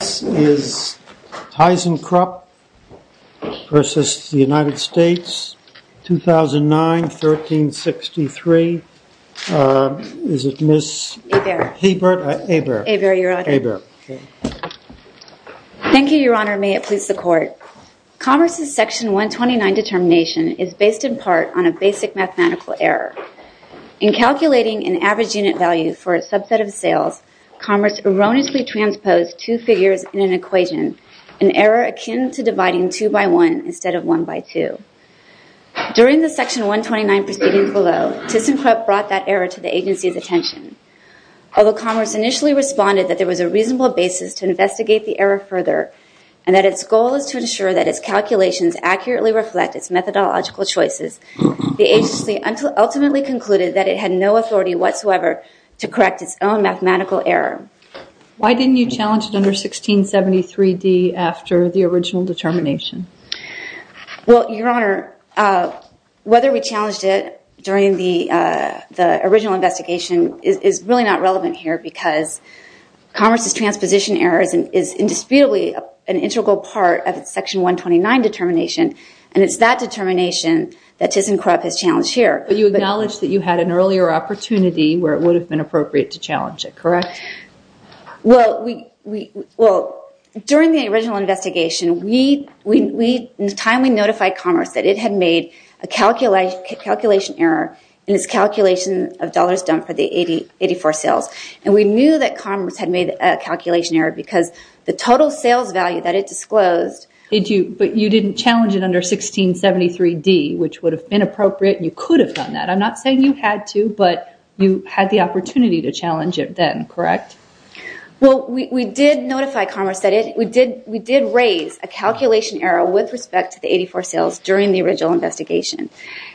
2009, 1363. Is it Ms. Hebert? Hebert. Hebert, your honor. Thank you, your honor. May it please the court. Commerce's section 129 determination is based in part on a basic mathematical error. In calculating an average unit value for a subset of sales, Commerce erroneously transposed two figures in an equation, an error akin to dividing two by one instead of one by two. During the section 129 proceedings below, Thyssenkrupp brought that error to the agency's attention. Although Commerce initially responded that there was a reasonable basis to investigate the error further, and that its goal is to ensure that its calculations accurately reflect its methodological choices, the agency ultimately concluded that it had no authority whatsoever to correct its own mathematical error. Why didn't you challenge it under 1673D after the original determination? Well, your honor, whether we challenged it during the original investigation is really not relevant here, because Commerce's transposition error is indisputably an integral part of its section 129 determination, and it's that determination that Thyssenkrupp has challenged here. But you acknowledge that you had an earlier opportunity where it would have been appropriate to challenge it, correct? Well, during the original investigation, in time we notified Commerce that it had made a calculation error in its calculation of dollars done for the 84 sales, and we knew that Commerce had made a calculation error because the total sales value that it disclosed... But you didn't challenge it under 1673D, which would have been appropriate, and you could have done that. I'm not saying you had to, but you had the opportunity to challenge it then, correct? Well, we did notify Commerce that we did raise a calculation error with respect to the 84 sales during the original investigation.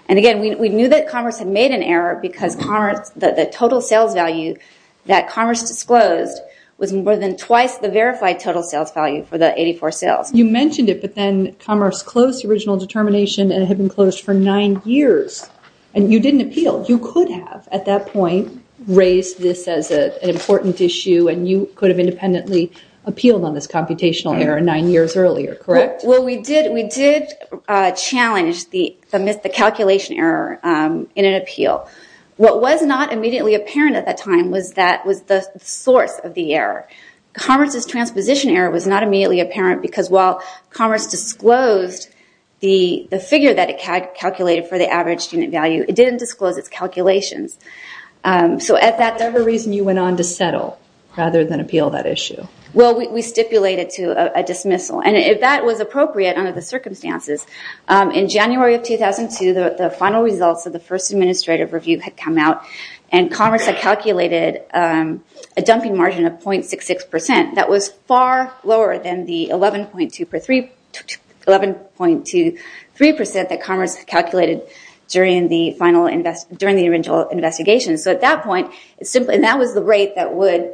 And again, we knew that Commerce had made an error because the total sales value that Commerce disclosed was more than twice the verified total sales value for the 84 sales. You mentioned it, but then Commerce closed the original determination, and it had been closed for nine years, and you didn't appeal. You could have, at that point, raised this as an important issue, and you could have independently appealed on this computational error nine years earlier, correct? Well, we did challenge the calculation error in an appeal. What was not immediately apparent at that time was the source of the error. Commerce's transposition error was not immediately apparent because while Commerce disclosed the figure that it calculated for the average unit value, it didn't disclose its calculations. So is that the reason you went on to settle rather than appeal that issue? Well, we stipulated to a dismissal, and if that was appropriate under the circumstances, in January of 2002, the final results of the first administrative review had come out, and Commerce had calculated a dumping margin of 0.66 percent. That was far lower than the 11.23 percent that Commerce calculated during the original investigation. So at that point, and that was the rate that would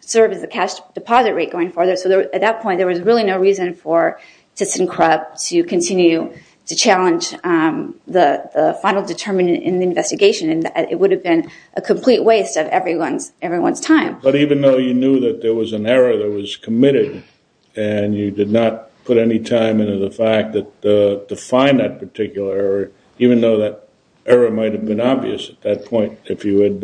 serve as the cash deposit rate going forward. So at that point, there was really no reason for ThyssenKrupp to continue to challenge the final determination in the investigation. It would have been a complete waste of everyone's time. But even though you knew that there was an error that was committed, and you did not put any time into the fact to find that particular error, even though that error might have been obvious at that point if you had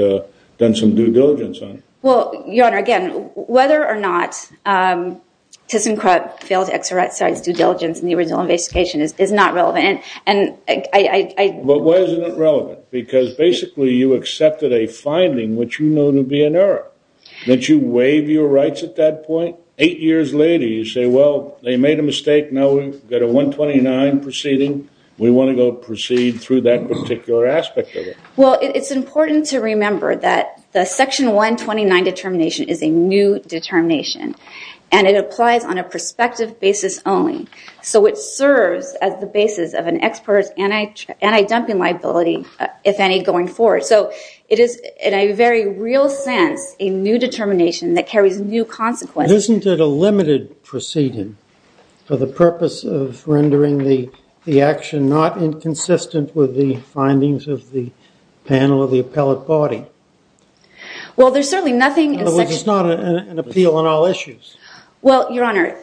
done some due diligence on it. Well, Your Honor, again, whether or not ThyssenKrupp failed to exercise due diligence in the original investigation is not relevant. But why isn't it relevant? Because basically you accepted a finding which you know to be an error. Didn't you waive your rights at that point? Eight years later, you say, well, they made a mistake, now we've got a 129 proceeding. We want to go proceed through that particular aspect of it. Well, it's important to remember that the Section 129 determination is a new determination, and it applies on a prospective basis only. So it serves as the basis of an expert's anti-dumping liability, if any, going forward. So it is, in a very real sense, a new determination that carries new consequences. Isn't it a limited proceeding for the purpose of rendering the action not inconsistent with the findings of the panel of the appellate body? Well, there's certainly nothing in Section 129. In other words, it's not an appeal on all issues. Well, Your Honor,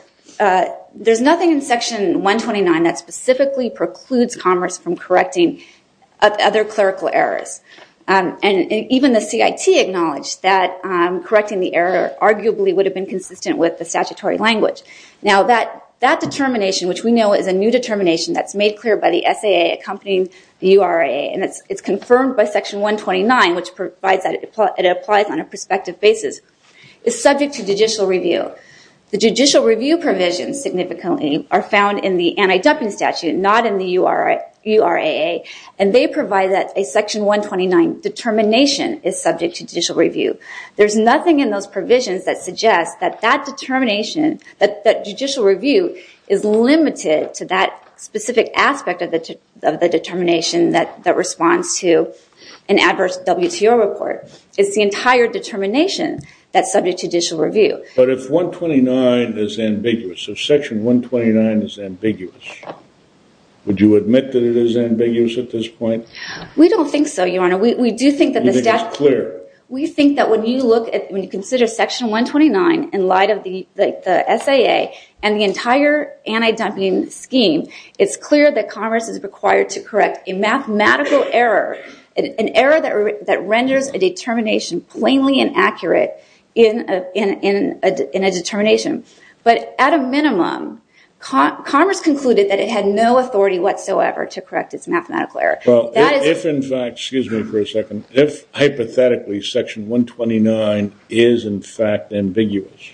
there's nothing in Section 129 that specifically precludes Congress from correcting other clerical errors. And even the CIT acknowledged that correcting the error arguably would have been consistent with the statutory language. Now, that determination, which we know is a new determination that's made clear by the SAA accompanying the URA, and it's confirmed by Section 129, which provides that it applies on a prospective basis, is subject to judicial review. The judicial review provisions significantly are found in the anti-dumping statute, not in the URAA, and they provide that a Section 129 determination is subject to judicial review. There's nothing in those provisions that suggests that that determination, that judicial review, is limited to that specific aspect of the determination that responds to an adverse WTO report. It's the entire determination that's subject to judicial review. But if 129 is ambiguous, if Section 129 is ambiguous, would you admit that it is ambiguous at this point? We don't think so, Your Honor. You think it's clear? We think that when you consider Section 129 in light of the SAA and the entire anti-dumping scheme, it's clear that Commerce is required to correct a mathematical error, an error that renders a determination plainly inaccurate in a determination. But at a minimum, Commerce concluded that it had no authority whatsoever to correct its mathematical error. Well, if in fact, excuse me for a second, if hypothetically Section 129 is in fact ambiguous,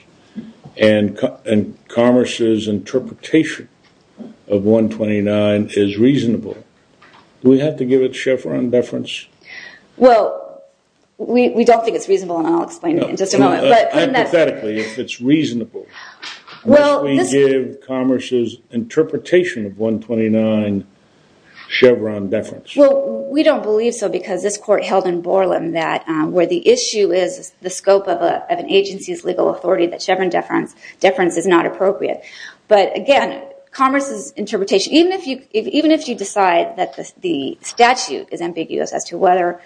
and Commerce's interpretation of 129 is reasonable, do we have to give it Chevron deference? Well, we don't think it's reasonable, and I'll explain it in just a moment. Hypothetically, if it's reasonable, must we give Commerce's interpretation of 129 Chevron deference? Well, we don't believe so because this court held in Borland that where the issue is the scope of an agency's legal authority, that Chevron deference is not appropriate. But again, Commerce's interpretation, even if you decide that the statute is ambiguous as to whether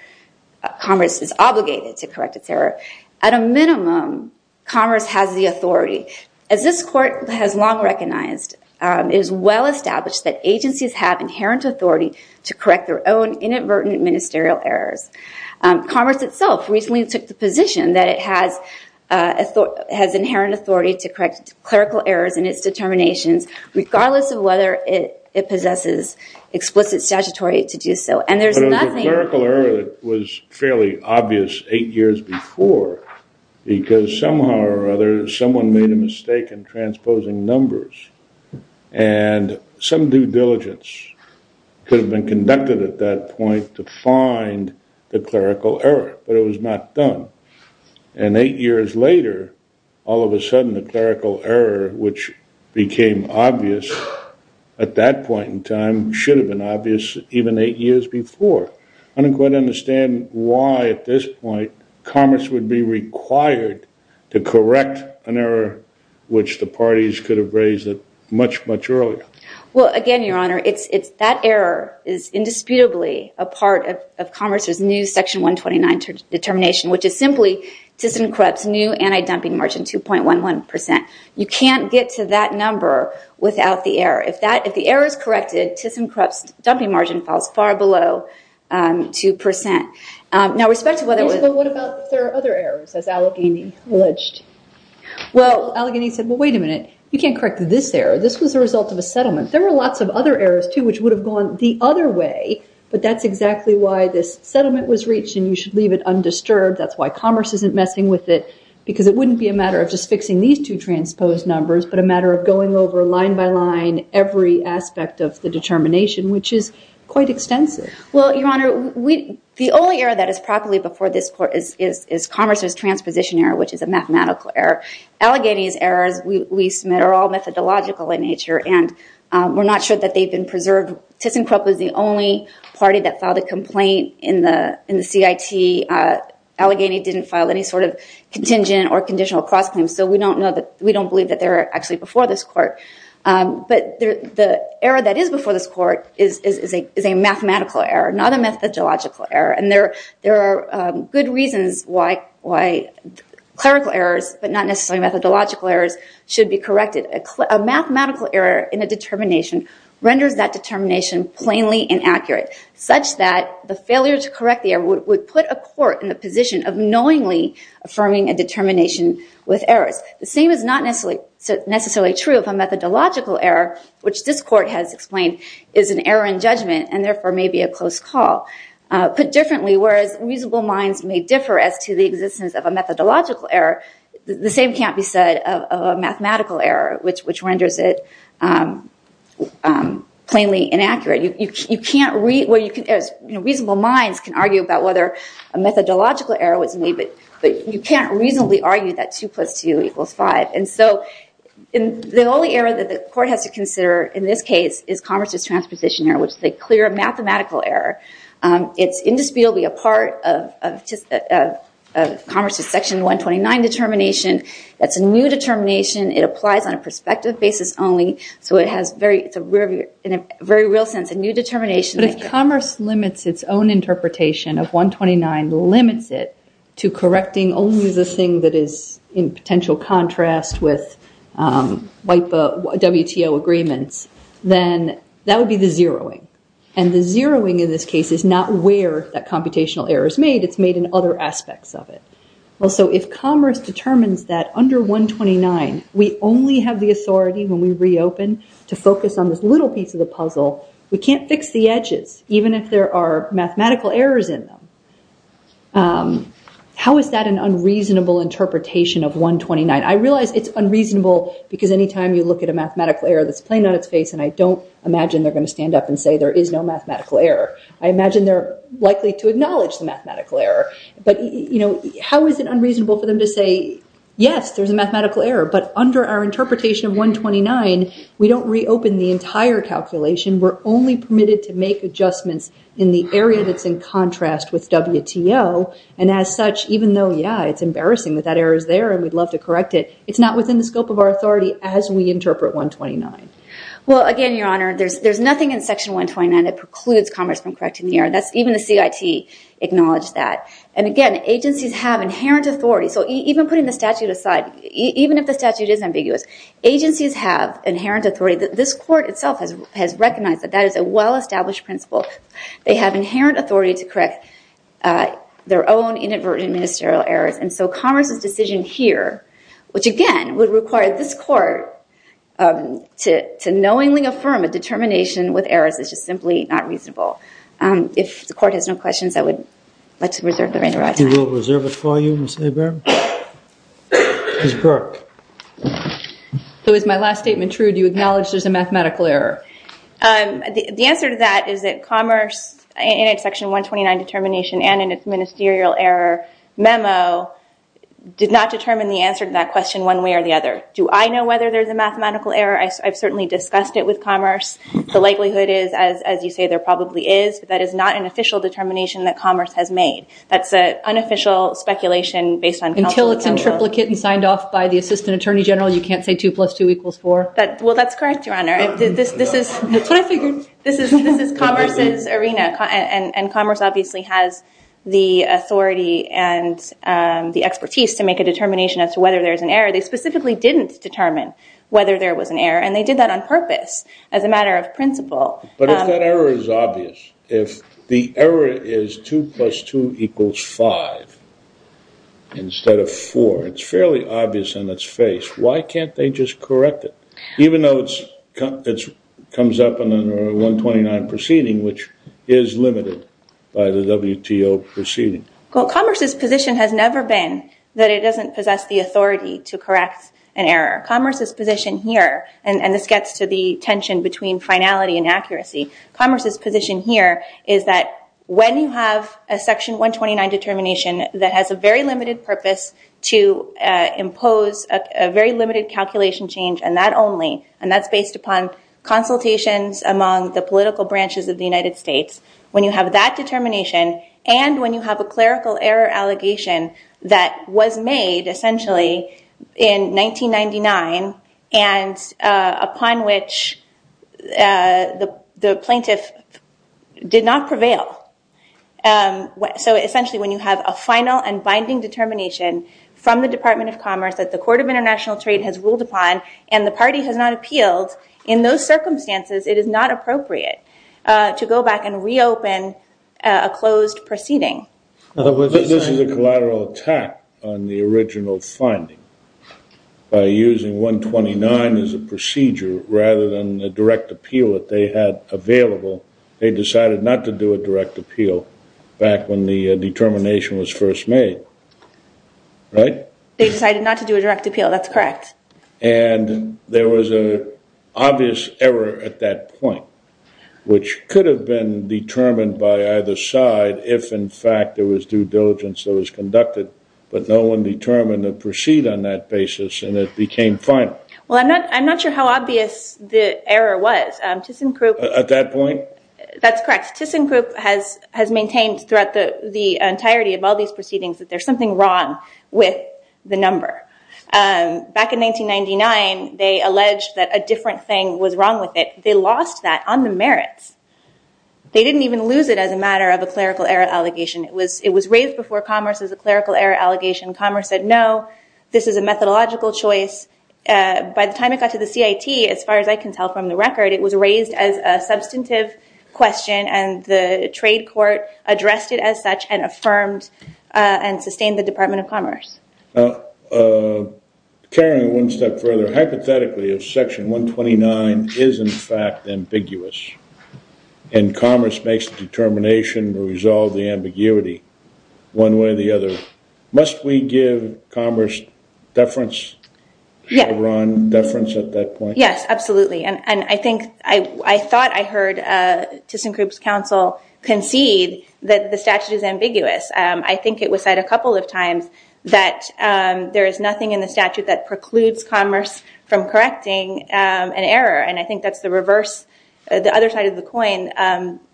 Commerce is obligated to correct its error, at a minimum, Commerce has the authority. As this court has long recognized, it is well established that agencies have inherent authority to correct their own inadvertent ministerial errors. Commerce itself recently took the position that it has inherent authority to correct clerical errors in its determinations, regardless of whether it possesses explicit statutory to do so. But it was a clerical error that was fairly obvious eight years before, because somehow or other, someone made a mistake in transposing numbers, and some due diligence could have been conducted at that point to find the clerical error, but it was not done. And eight years later, all of a sudden, the clerical error, which became obvious at that point in time, should have been obvious even eight years before. I don't quite understand why, at this point, Commerce would be required to correct an error, which the parties could have raised it much, much earlier. Well, again, Your Honor, that error is indisputably a part of Commerce's new Section 129 determination, which is simply to encrypt new anti-dumping margin 2.11%. You can't get to that number without the error. If the error is corrected, TISM corrupts dumping margin falls far below 2%. Now, respect to whether it was- Yes, but what about if there are other errors, as Allegheny alleged? Well, Allegheny said, well, wait a minute. You can't correct this error. This was a result of a settlement. There were lots of other errors, too, which would have gone the other way, but that's exactly why this settlement was reached, and you should leave it undisturbed. That's why Commerce isn't messing with it, because it wouldn't be a matter of just fixing these two transposed numbers, but a matter of going over, line by line, every aspect of the determination, which is quite extensive. Well, Your Honor, the only error that is properly before this Court is Commerce's transposition error, which is a mathematical error. Allegheny's errors, we submit, are all methodological in nature, and we're not sure that they've been preserved. TISM corrupt was the only party that filed a complaint in the CIT. Allegheny didn't file any sort of contingent or conditional cross-claims, so we don't believe that they're actually before this Court. But the error that is before this Court is a mathematical error, not a methodological error, and there are good reasons why clerical errors, but not necessarily methodological errors, should be corrected. A mathematical error in a determination renders that determination plainly inaccurate, such that the failure to correct the error would put a court in the position of knowingly affirming a determination with errors. The same is not necessarily true of a methodological error, which this Court has explained is an error in judgment, and therefore may be a close call. Put differently, whereas reasonable minds may differ as to the existence of a methodological error, the same can't be said of a mathematical error, which renders it plainly inaccurate. Reasonable minds can argue about whether a methodological error was made, but you can't reasonably argue that 2 plus 2 equals 5. And so the only error that the Court has to consider in this case is Congress's transposition error, which is a clear mathematical error. It's indisputably a part of Congress's Section 129 determination. That's a new determination. It applies on a perspective basis only, so it's in a very real sense a new determination. But if Congress limits its own interpretation of 129, limits it to correcting only the thing that is in potential contrast with WTO agreements, then that would be the zeroing. And the zeroing in this case is not where that computational error is made. It's made in other aspects of it. Well, so if Congress determines that under 129 we only have the authority when we reopen to focus on this little piece of the puzzle, we can't fix the edges, even if there are mathematical errors in them. How is that an unreasonable interpretation of 129? I realize it's unreasonable because anytime you look at a mathematical error that's plain on its face, and I don't imagine they're going to stand up and say there is no mathematical error, I imagine they're likely to acknowledge the mathematical error. But how is it unreasonable for them to say, yes, there's a mathematical error, but under our interpretation of 129 we don't reopen the entire calculation. We're only permitted to make adjustments in the area that's in contrast with WTO. And as such, even though, yeah, it's embarrassing that that error is there and we'd love to correct it, it's not within the scope of our authority as we interpret 129. Well, again, Your Honor, there's nothing in Section 129 that precludes Congress from correcting the error. Even the CIT acknowledged that. And again, agencies have inherent authority. So even putting the statute aside, even if the statute is ambiguous, agencies have inherent authority. This court itself has recognized that that is a well-established principle. They have inherent authority to correct their own inadvertent ministerial errors. And so Congress's decision here, which again would require this court to knowingly affirm a determination with errors, is just simply not reasonable. If the court has no questions, I would like to reserve the reign of my time. We will reserve it for you, Ms. Hebert. Ms. Burke. So is my last statement true? Do you acknowledge there's a mathematical error? The answer to that is that Commerce in its Section 129 determination and in its ministerial error memo did not determine the answer to that question one way or the other. Do I know whether there's a mathematical error? I've certainly discussed it with Commerce. The likelihood is, as you say, there probably is. But that is not an official determination that Commerce has made. That's an unofficial speculation based on Council approval. Until it's in triplicate and signed off by the Assistant Attorney General, you can't say 2 plus 2 equals 4? Well, that's correct, Your Honor. That's what I figured. This is Commerce's arena. And Commerce obviously has the authority and the expertise to make a determination as to whether there's an error. They specifically didn't determine whether there was an error. And they did that on purpose as a matter of principle. But if that error is obvious, if the error is 2 plus 2 equals 5 instead of 4, it's fairly obvious in its face. Why can't they just correct it? Even though it comes up in the 129 proceeding, which is limited by the WTO proceeding. Well, Commerce's position has never been that it doesn't possess the authority to correct an error. Commerce's position here, and this gets to the tension between finality and accuracy, Commerce's position here is that when you have a Section 129 determination that has a very limited purpose to impose a very limited calculation change, and that's based upon consultations among the political branches of the United States, when you have that determination and when you have a clerical error allegation that was made essentially in 1999 and upon which the plaintiff did not prevail. So essentially when you have a final and binding determination from the Department of Commerce that the Court of International Trade has ruled upon and the party has not appealed, in those circumstances it is not appropriate to go back and reopen a closed proceeding. This is a collateral attack on the original finding. By using 129 as a procedure rather than a direct appeal that they had available, they decided not to do a direct appeal back when the determination was first made, right? They decided not to do a direct appeal, that's correct. And there was an obvious error at that point, which could have been determined by either side if in fact there was due diligence that was conducted, but no one determined to proceed on that basis and it became final. Well, I'm not sure how obvious the error was. At that point? That's correct. ThyssenKrupp has maintained throughout the entirety of all these proceedings that there's something wrong with the number. Back in 1999, they alleged that a different thing was wrong with it. They lost that on the merits. They didn't even lose it as a matter of a clerical error allegation. It was raised before commerce as a clerical error allegation. Commerce said, no, this is a methodological choice. By the time it got to the CIT, as far as I can tell from the record, it was raised as a substantive question and the trade court addressed it as such and affirmed and sustained the Department of Commerce. Now, carrying it one step further, hypothetically, if Section 129 is in fact ambiguous and commerce makes the determination to resolve the ambiguity one way or the other, must we give commerce deference? Yes. Deference at that point? Yes, absolutely. And I think I thought I heard ThyssenKrupp's counsel concede that the statute is ambiguous. I think it was said a couple of times that there is nothing in the statute that precludes commerce from correcting an error. And I think that's the reverse, the other side of the coin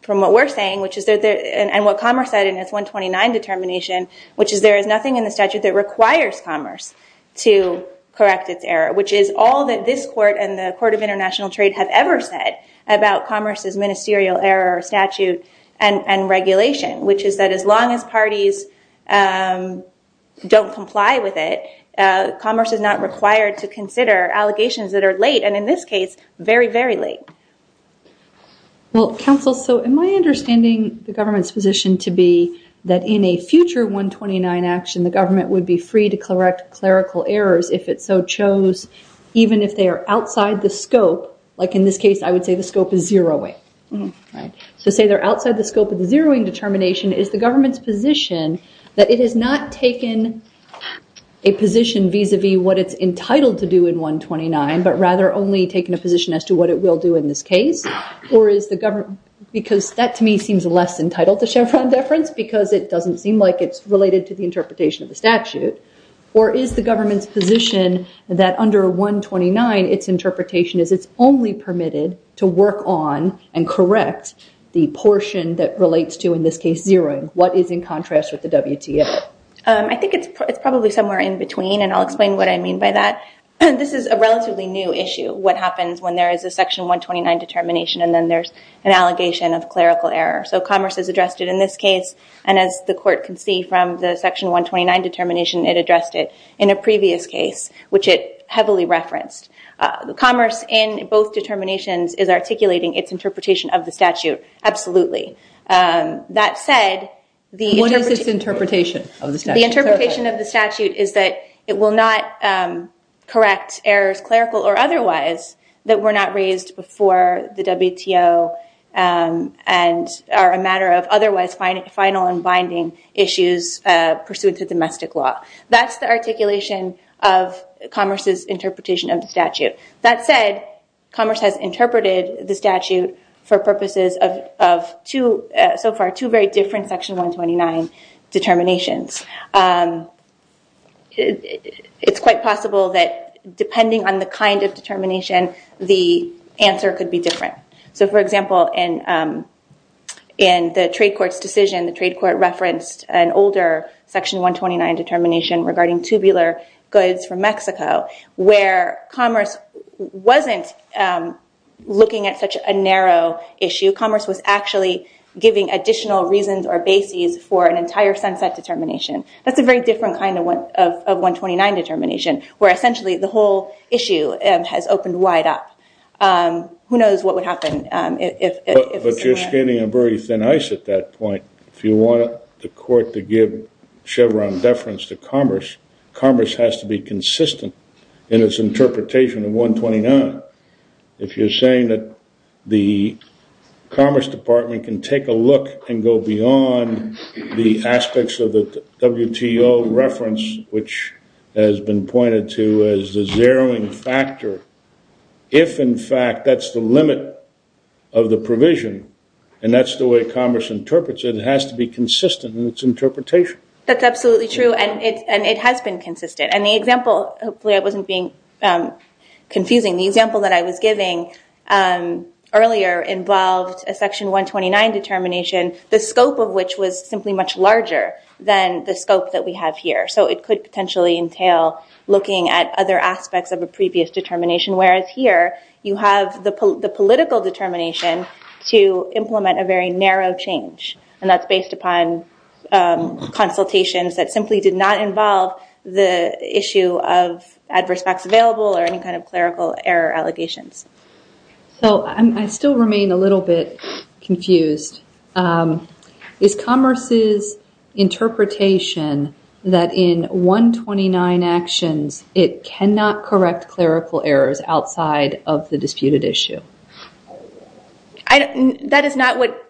from what we're saying, and what commerce said in its 129 determination, which is there is nothing in the statute that requires commerce to correct its error, which is all that this court and the Court of International Trade have ever said about commerce's ministerial error statute and regulation, which is that as long as parties don't comply with it, commerce is not required to consider allegations that are late, and in this case, very, very late. Well, counsel, so in my understanding, the government's position to be that in a future 129 action, the government would be free to correct clerical errors if it so chose, even if they are outside the scope. Like in this case, I would say the scope is zeroing. So say they're outside the scope of the zeroing determination, is the government's position that it has not taken a position vis-a-vis what it's entitled to do in 129, but rather only taken a position as to what it will do in this case, or is the government, because that to me seems less entitled to Chevron deference, because it doesn't seem like it's related to the interpretation of the statute, or is the government's position that under 129, its interpretation is it's only permitted to work on and correct the portion that relates to, in this case, zeroing? What is in contrast with the WTA? I think it's probably somewhere in between, and I'll explain what I mean by that. This is a relatively new issue, what happens when there is a section 129 determination, and then there's an allegation of clerical error. So commerce has addressed it in this case, and as the court can see from the section 129 determination, it addressed it in a previous case, which it heavily referenced. Commerce, in both determinations, is articulating its interpretation of the statute, absolutely. That said, the interpretation of the statute is that it will not correct errors, clerical or otherwise, that were not raised before the WTO, and are a matter of otherwise final and binding issues pursuant to domestic law. That's the articulation of commerce's interpretation of the statute. That said, commerce has interpreted the statute for purposes of, so far, two very different section 129 determinations. It's quite possible that, depending on the kind of determination, the answer could be different. So, for example, in the trade court's decision, the trade court referenced an older section 129 determination regarding tubular goods from Mexico, where commerce wasn't looking at such a narrow issue. Commerce was actually giving additional reasons or bases for an entire sunset determination. That's a very different kind of 129 determination, where essentially the whole issue has opened wide up. Who knows what would happen if it's not? But you're scanning a very thin ice at that point. If you want the court to give Chevron deference to commerce, commerce has to be consistent in its interpretation of 129. If you're saying that the Commerce Department can take a look and go beyond the aspects of the WTO reference, which has been pointed to as the zeroing factor, if, in fact, that's the limit of the provision, and that's the way commerce interprets it, it has to be consistent in its interpretation. That's absolutely true, and it has been consistent. Hopefully I wasn't being confusing. The example that I was giving earlier involved a section 129 determination, the scope of which was simply much larger than the scope that we have here. So it could potentially entail looking at other aspects of a previous determination, whereas here you have the political determination to implement a very narrow change, and that's based upon consultations that simply did not involve the issue of adverse facts available or any kind of clerical error allegations. So I still remain a little bit confused. Is commerce's interpretation that in 129 actions it cannot correct clerical errors outside of the disputed issue? That is not what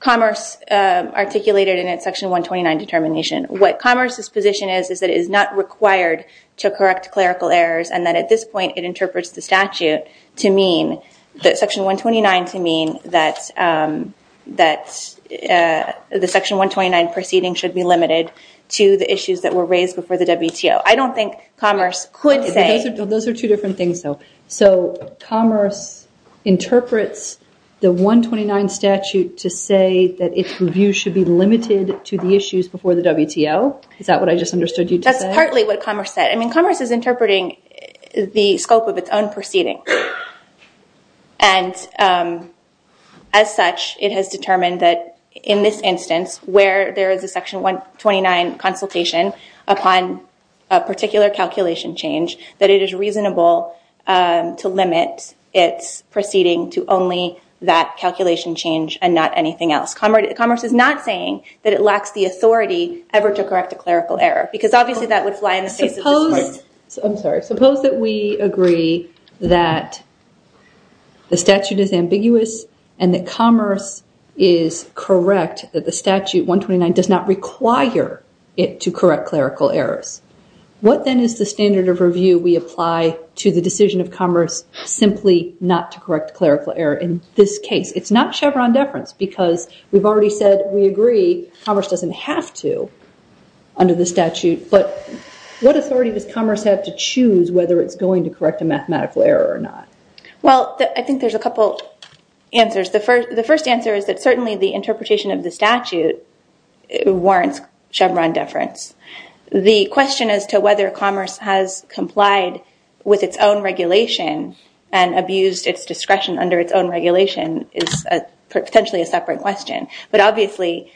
commerce articulated in its section 129 determination. What commerce's position is is that it is not required to correct clerical errors, and that at this point it interprets the statute to mean, the section 129, to mean that the section 129 proceeding should be limited to the issues that were raised before the WTO. I don't think commerce could say... Those are two different things, though. So commerce interprets the 129 statute to say that its review should be limited to the issues before the WTO? Is that what I just understood you to say? That's partly what commerce said. I mean, commerce is interpreting the scope of its own proceeding. And as such, it has determined that in this instance, where there is a section 129 consultation upon a particular calculation change, that it is reasonable to limit its proceeding to only that calculation change and not anything else. Commerce is not saying that it lacks the authority ever to correct a clerical error, because obviously that would fly in the face of the court. I'm sorry. Suppose that we agree that the statute is ambiguous and that commerce is correct, that the statute 129 does not require it to correct clerical errors. What then is the standard of review we apply to the decision of commerce simply not to correct clerical error in this case? It's not Chevron deference, because we've already said we agree commerce doesn't have to under the statute. But what authority does commerce have to choose whether it's going to correct a mathematical error or not? Well, I think there's a couple answers. The first answer is that certainly the interpretation of the statute warrants Chevron deference. The question as to whether commerce has complied with its own regulation and abused its discretion under its own regulation is potentially a separate question. But obviously,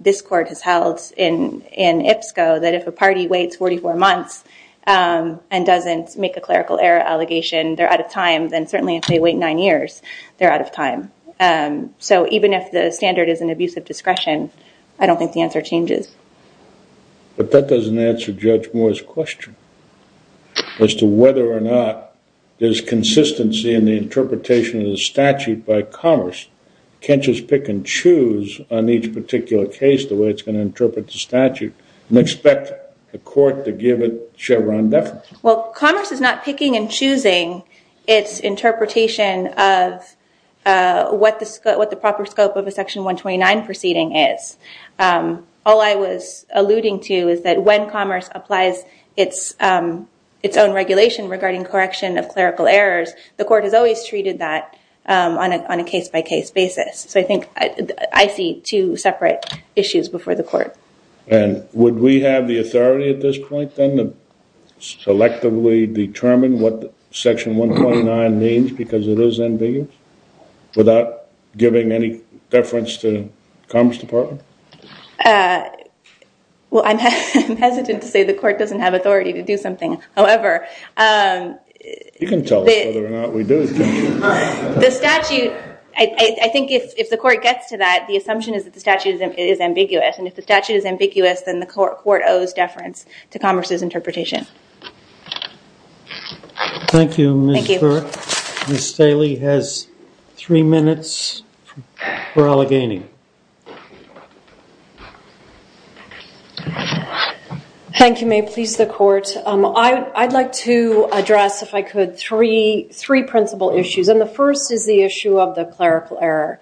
this court has held in IPSCO that if a party waits 44 months and doesn't make a clerical error allegation, they're out of time. Then certainly if they wait nine years, they're out of time. So even if the standard is an abuse of discretion, I don't think the answer changes. But that doesn't answer Judge Moore's question as to whether or not there's consistency in the interpretation of the statute by commerce. Can't just pick and choose on each particular case the way it's going to interpret the statute and expect the court to give it Chevron deference. Well, commerce is not picking and choosing its interpretation of what the proper scope of a Section 129 proceeding is. All I was alluding to is that when commerce applies its own regulation regarding correction of clerical errors, the court has always treated that on a case-by-case basis. So I think I see two separate issues before the court. And would we have the authority at this point then to selectively determine what Section 129 means because it is ambiguous without giving any deference to the Commerce Department? Well, I'm hesitant to say the court doesn't have authority to do something. However, the statute, I think if the court gets to that, the assumption is that the statute is ambiguous. And if the statute is ambiguous, then the court owes deference to commerce's interpretation. Thank you, Ms. Burke. Thank you. Ms. Staley has three minutes for Allegheny. Thank you, Mayor. Please, the court. I'd like to address, if I could, three principal issues. And the first is the issue of the clerical error.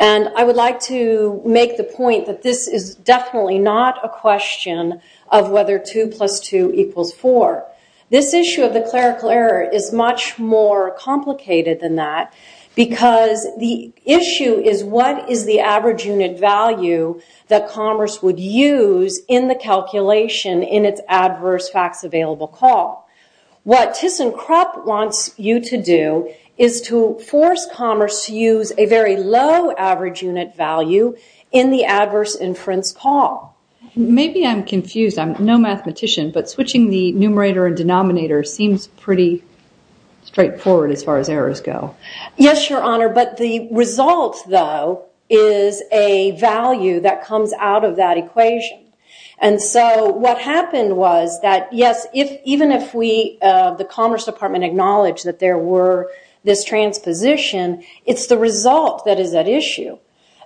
And I would like to make the point that this is definitely not a question of whether 2 plus 2 equals 4. This issue of the clerical error is much more complicated than that because the issue is what is the average unit value that commerce would use in the calculation in its adverse facts available call. What ThyssenKrupp wants you to do is to force commerce to use a very low average unit value in the adverse inference call. Maybe I'm confused. I'm no mathematician, but switching the numerator and denominator seems pretty straightforward as far as errors go. Yes, Your Honor, but the result, though, is a value that comes out of that equation. And so what happened was that, yes, even if the Commerce Department acknowledged that there were this transposition, it's the result that is at issue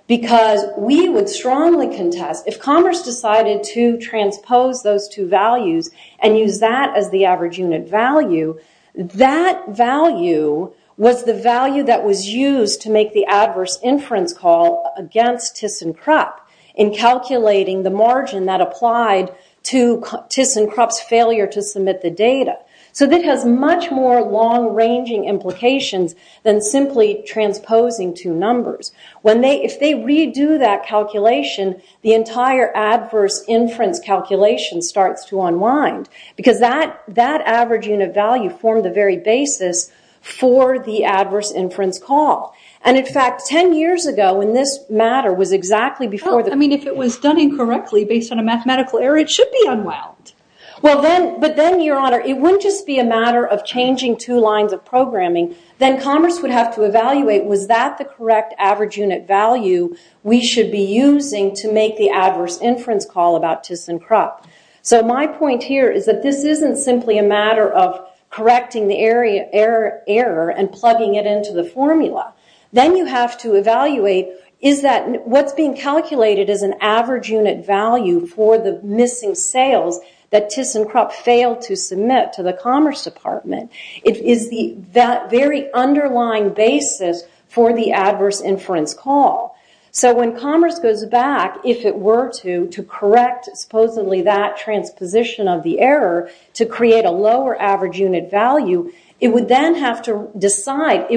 because we would strongly contest, if commerce decided to transpose those two values and use that as the average unit value, that value was the value that was used to make the adverse inference call against ThyssenKrupp in calculating the margin that applied to ThyssenKrupp's failure to submit the data. So that has much more long-ranging implications than simply transposing two numbers. If they redo that calculation, the entire adverse inference calculation starts to unwind because that average unit value formed the very basis for the adverse inference call. And in fact, 10 years ago, when this matter was exactly before the... I mean, if it was done incorrectly based on a mathematical error, it should be unwound. Well, but then, Your Honor, it wouldn't just be a matter of changing two lines of programming. Then commerce would have to evaluate, was that the correct average unit value we should be using to make the adverse inference call about ThyssenKrupp? So my point here is that this isn't simply a matter of correcting the error and plugging it into the formula. Then you have to evaluate, is that what's being calculated as an average unit value for the missing sales that ThyssenKrupp failed to submit to the Commerce Department? Is that very underlying basis for the adverse inference call? So when commerce goes back, if it were to, to correct supposedly that transposition of the error to create a lower average unit value, it would then have to decide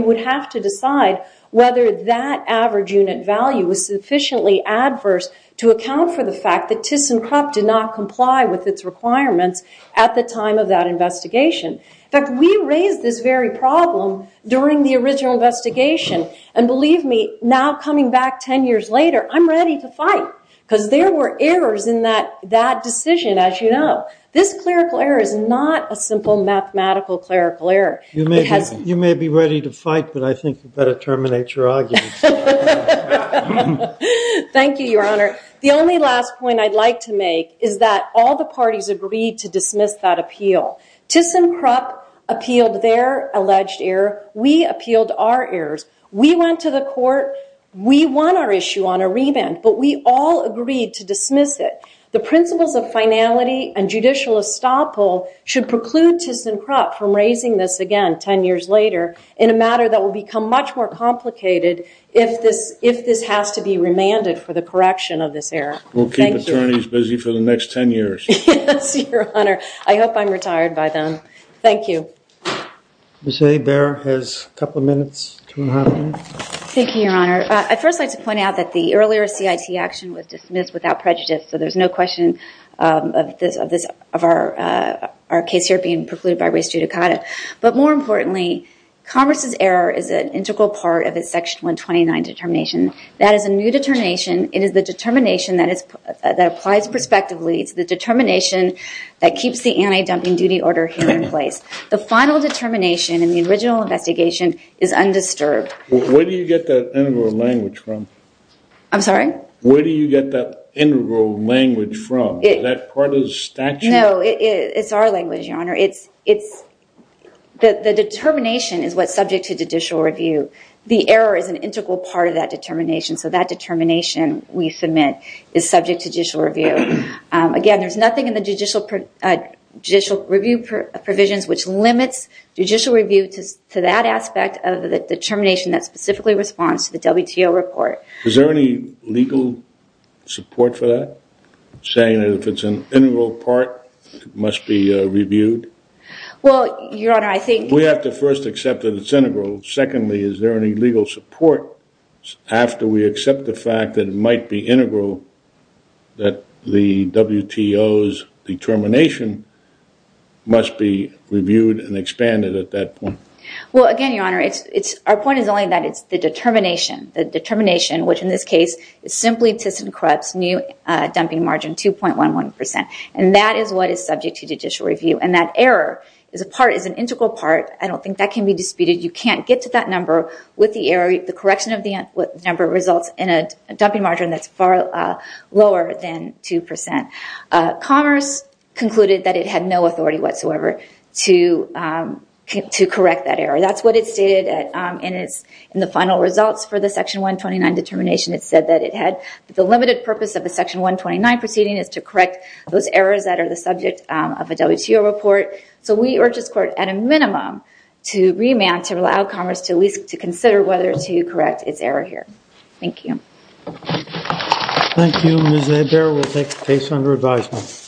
whether that average unit value was sufficiently adverse to account for the fact that ThyssenKrupp did not comply with its requirements at the time of that investigation. In fact, we raised this very problem during the original investigation. And believe me, now coming back 10 years later, I'm ready to fight because there were errors in that decision, as you know. This clerical error is not a simple mathematical clerical error. You may be ready to fight, but I think you better terminate your argument. Thank you, Your Honor. The only last point I'd like to make is that all the parties agreed to dismiss that appeal. ThyssenKrupp appealed their alleged error. We appealed our errors. We went to the court. We won our issue on a remand, but we all agreed to dismiss it. The principles of finality and judicial estoppel should preclude ThyssenKrupp from raising this again 10 years later in a matter that will become much more complicated if this has to be remanded for the correction of this error. We'll keep attorneys busy for the next 10 years. Yes, Your Honor. I hope I'm retired by then. Thank you. Ms. Hebert has a couple of minutes to comment. Thank you, Your Honor. I'd first like to point out that the earlier CIT action was dismissed without prejudice, so there's no question of our case here being precluded by race judicata. But more importantly, Congress's error is an integral part of its Section 129 determination. That is a new determination. It is the determination that applies prospectively. It's the determination that keeps the anti-dumping duty order here in place. The final determination in the original investigation is undisturbed. Where do you get that integral language from? I'm sorry? Where do you get that integral language from? Is that part of the statute? No, it's our language, Your Honor. The determination is what's subject to judicial review. The error is an integral part of that determination, so that determination we submit is subject to judicial review. Again, there's nothing in the judicial review provisions which limits judicial review to that aspect of the determination that specifically responds to the WTO report. Is there any legal support for that? Saying that if it's an integral part, it must be reviewed? Well, Your Honor, I think... We have to first accept that it's integral. Secondly, is there any legal support after we accept the fact that it might be integral, that the WTO's determination must be reviewed and expanded at that point? Well, again, Your Honor, our point is only that it's the determination. The determination, which in this case is simply to corrupt new dumping margin 2.11%. And that is what is subject to judicial review. And that error is an integral part. I don't think that can be disputed. You can't get to that number with the error. The correction of the number results in a dumping margin that's far lower than 2%. Commerce concluded that it had no authority whatsoever to correct that error. That's what it stated in the final results for the Section 129 determination. It said that the limited purpose of a Section 129 proceeding is to correct those errors that are the subject of a WTO report. So we urge this Court, at a minimum, to remand to allow Commerce to at least consider whether to correct its error here. Thank you. Thank you, Ms. Hebert. We'll take the case under advisement.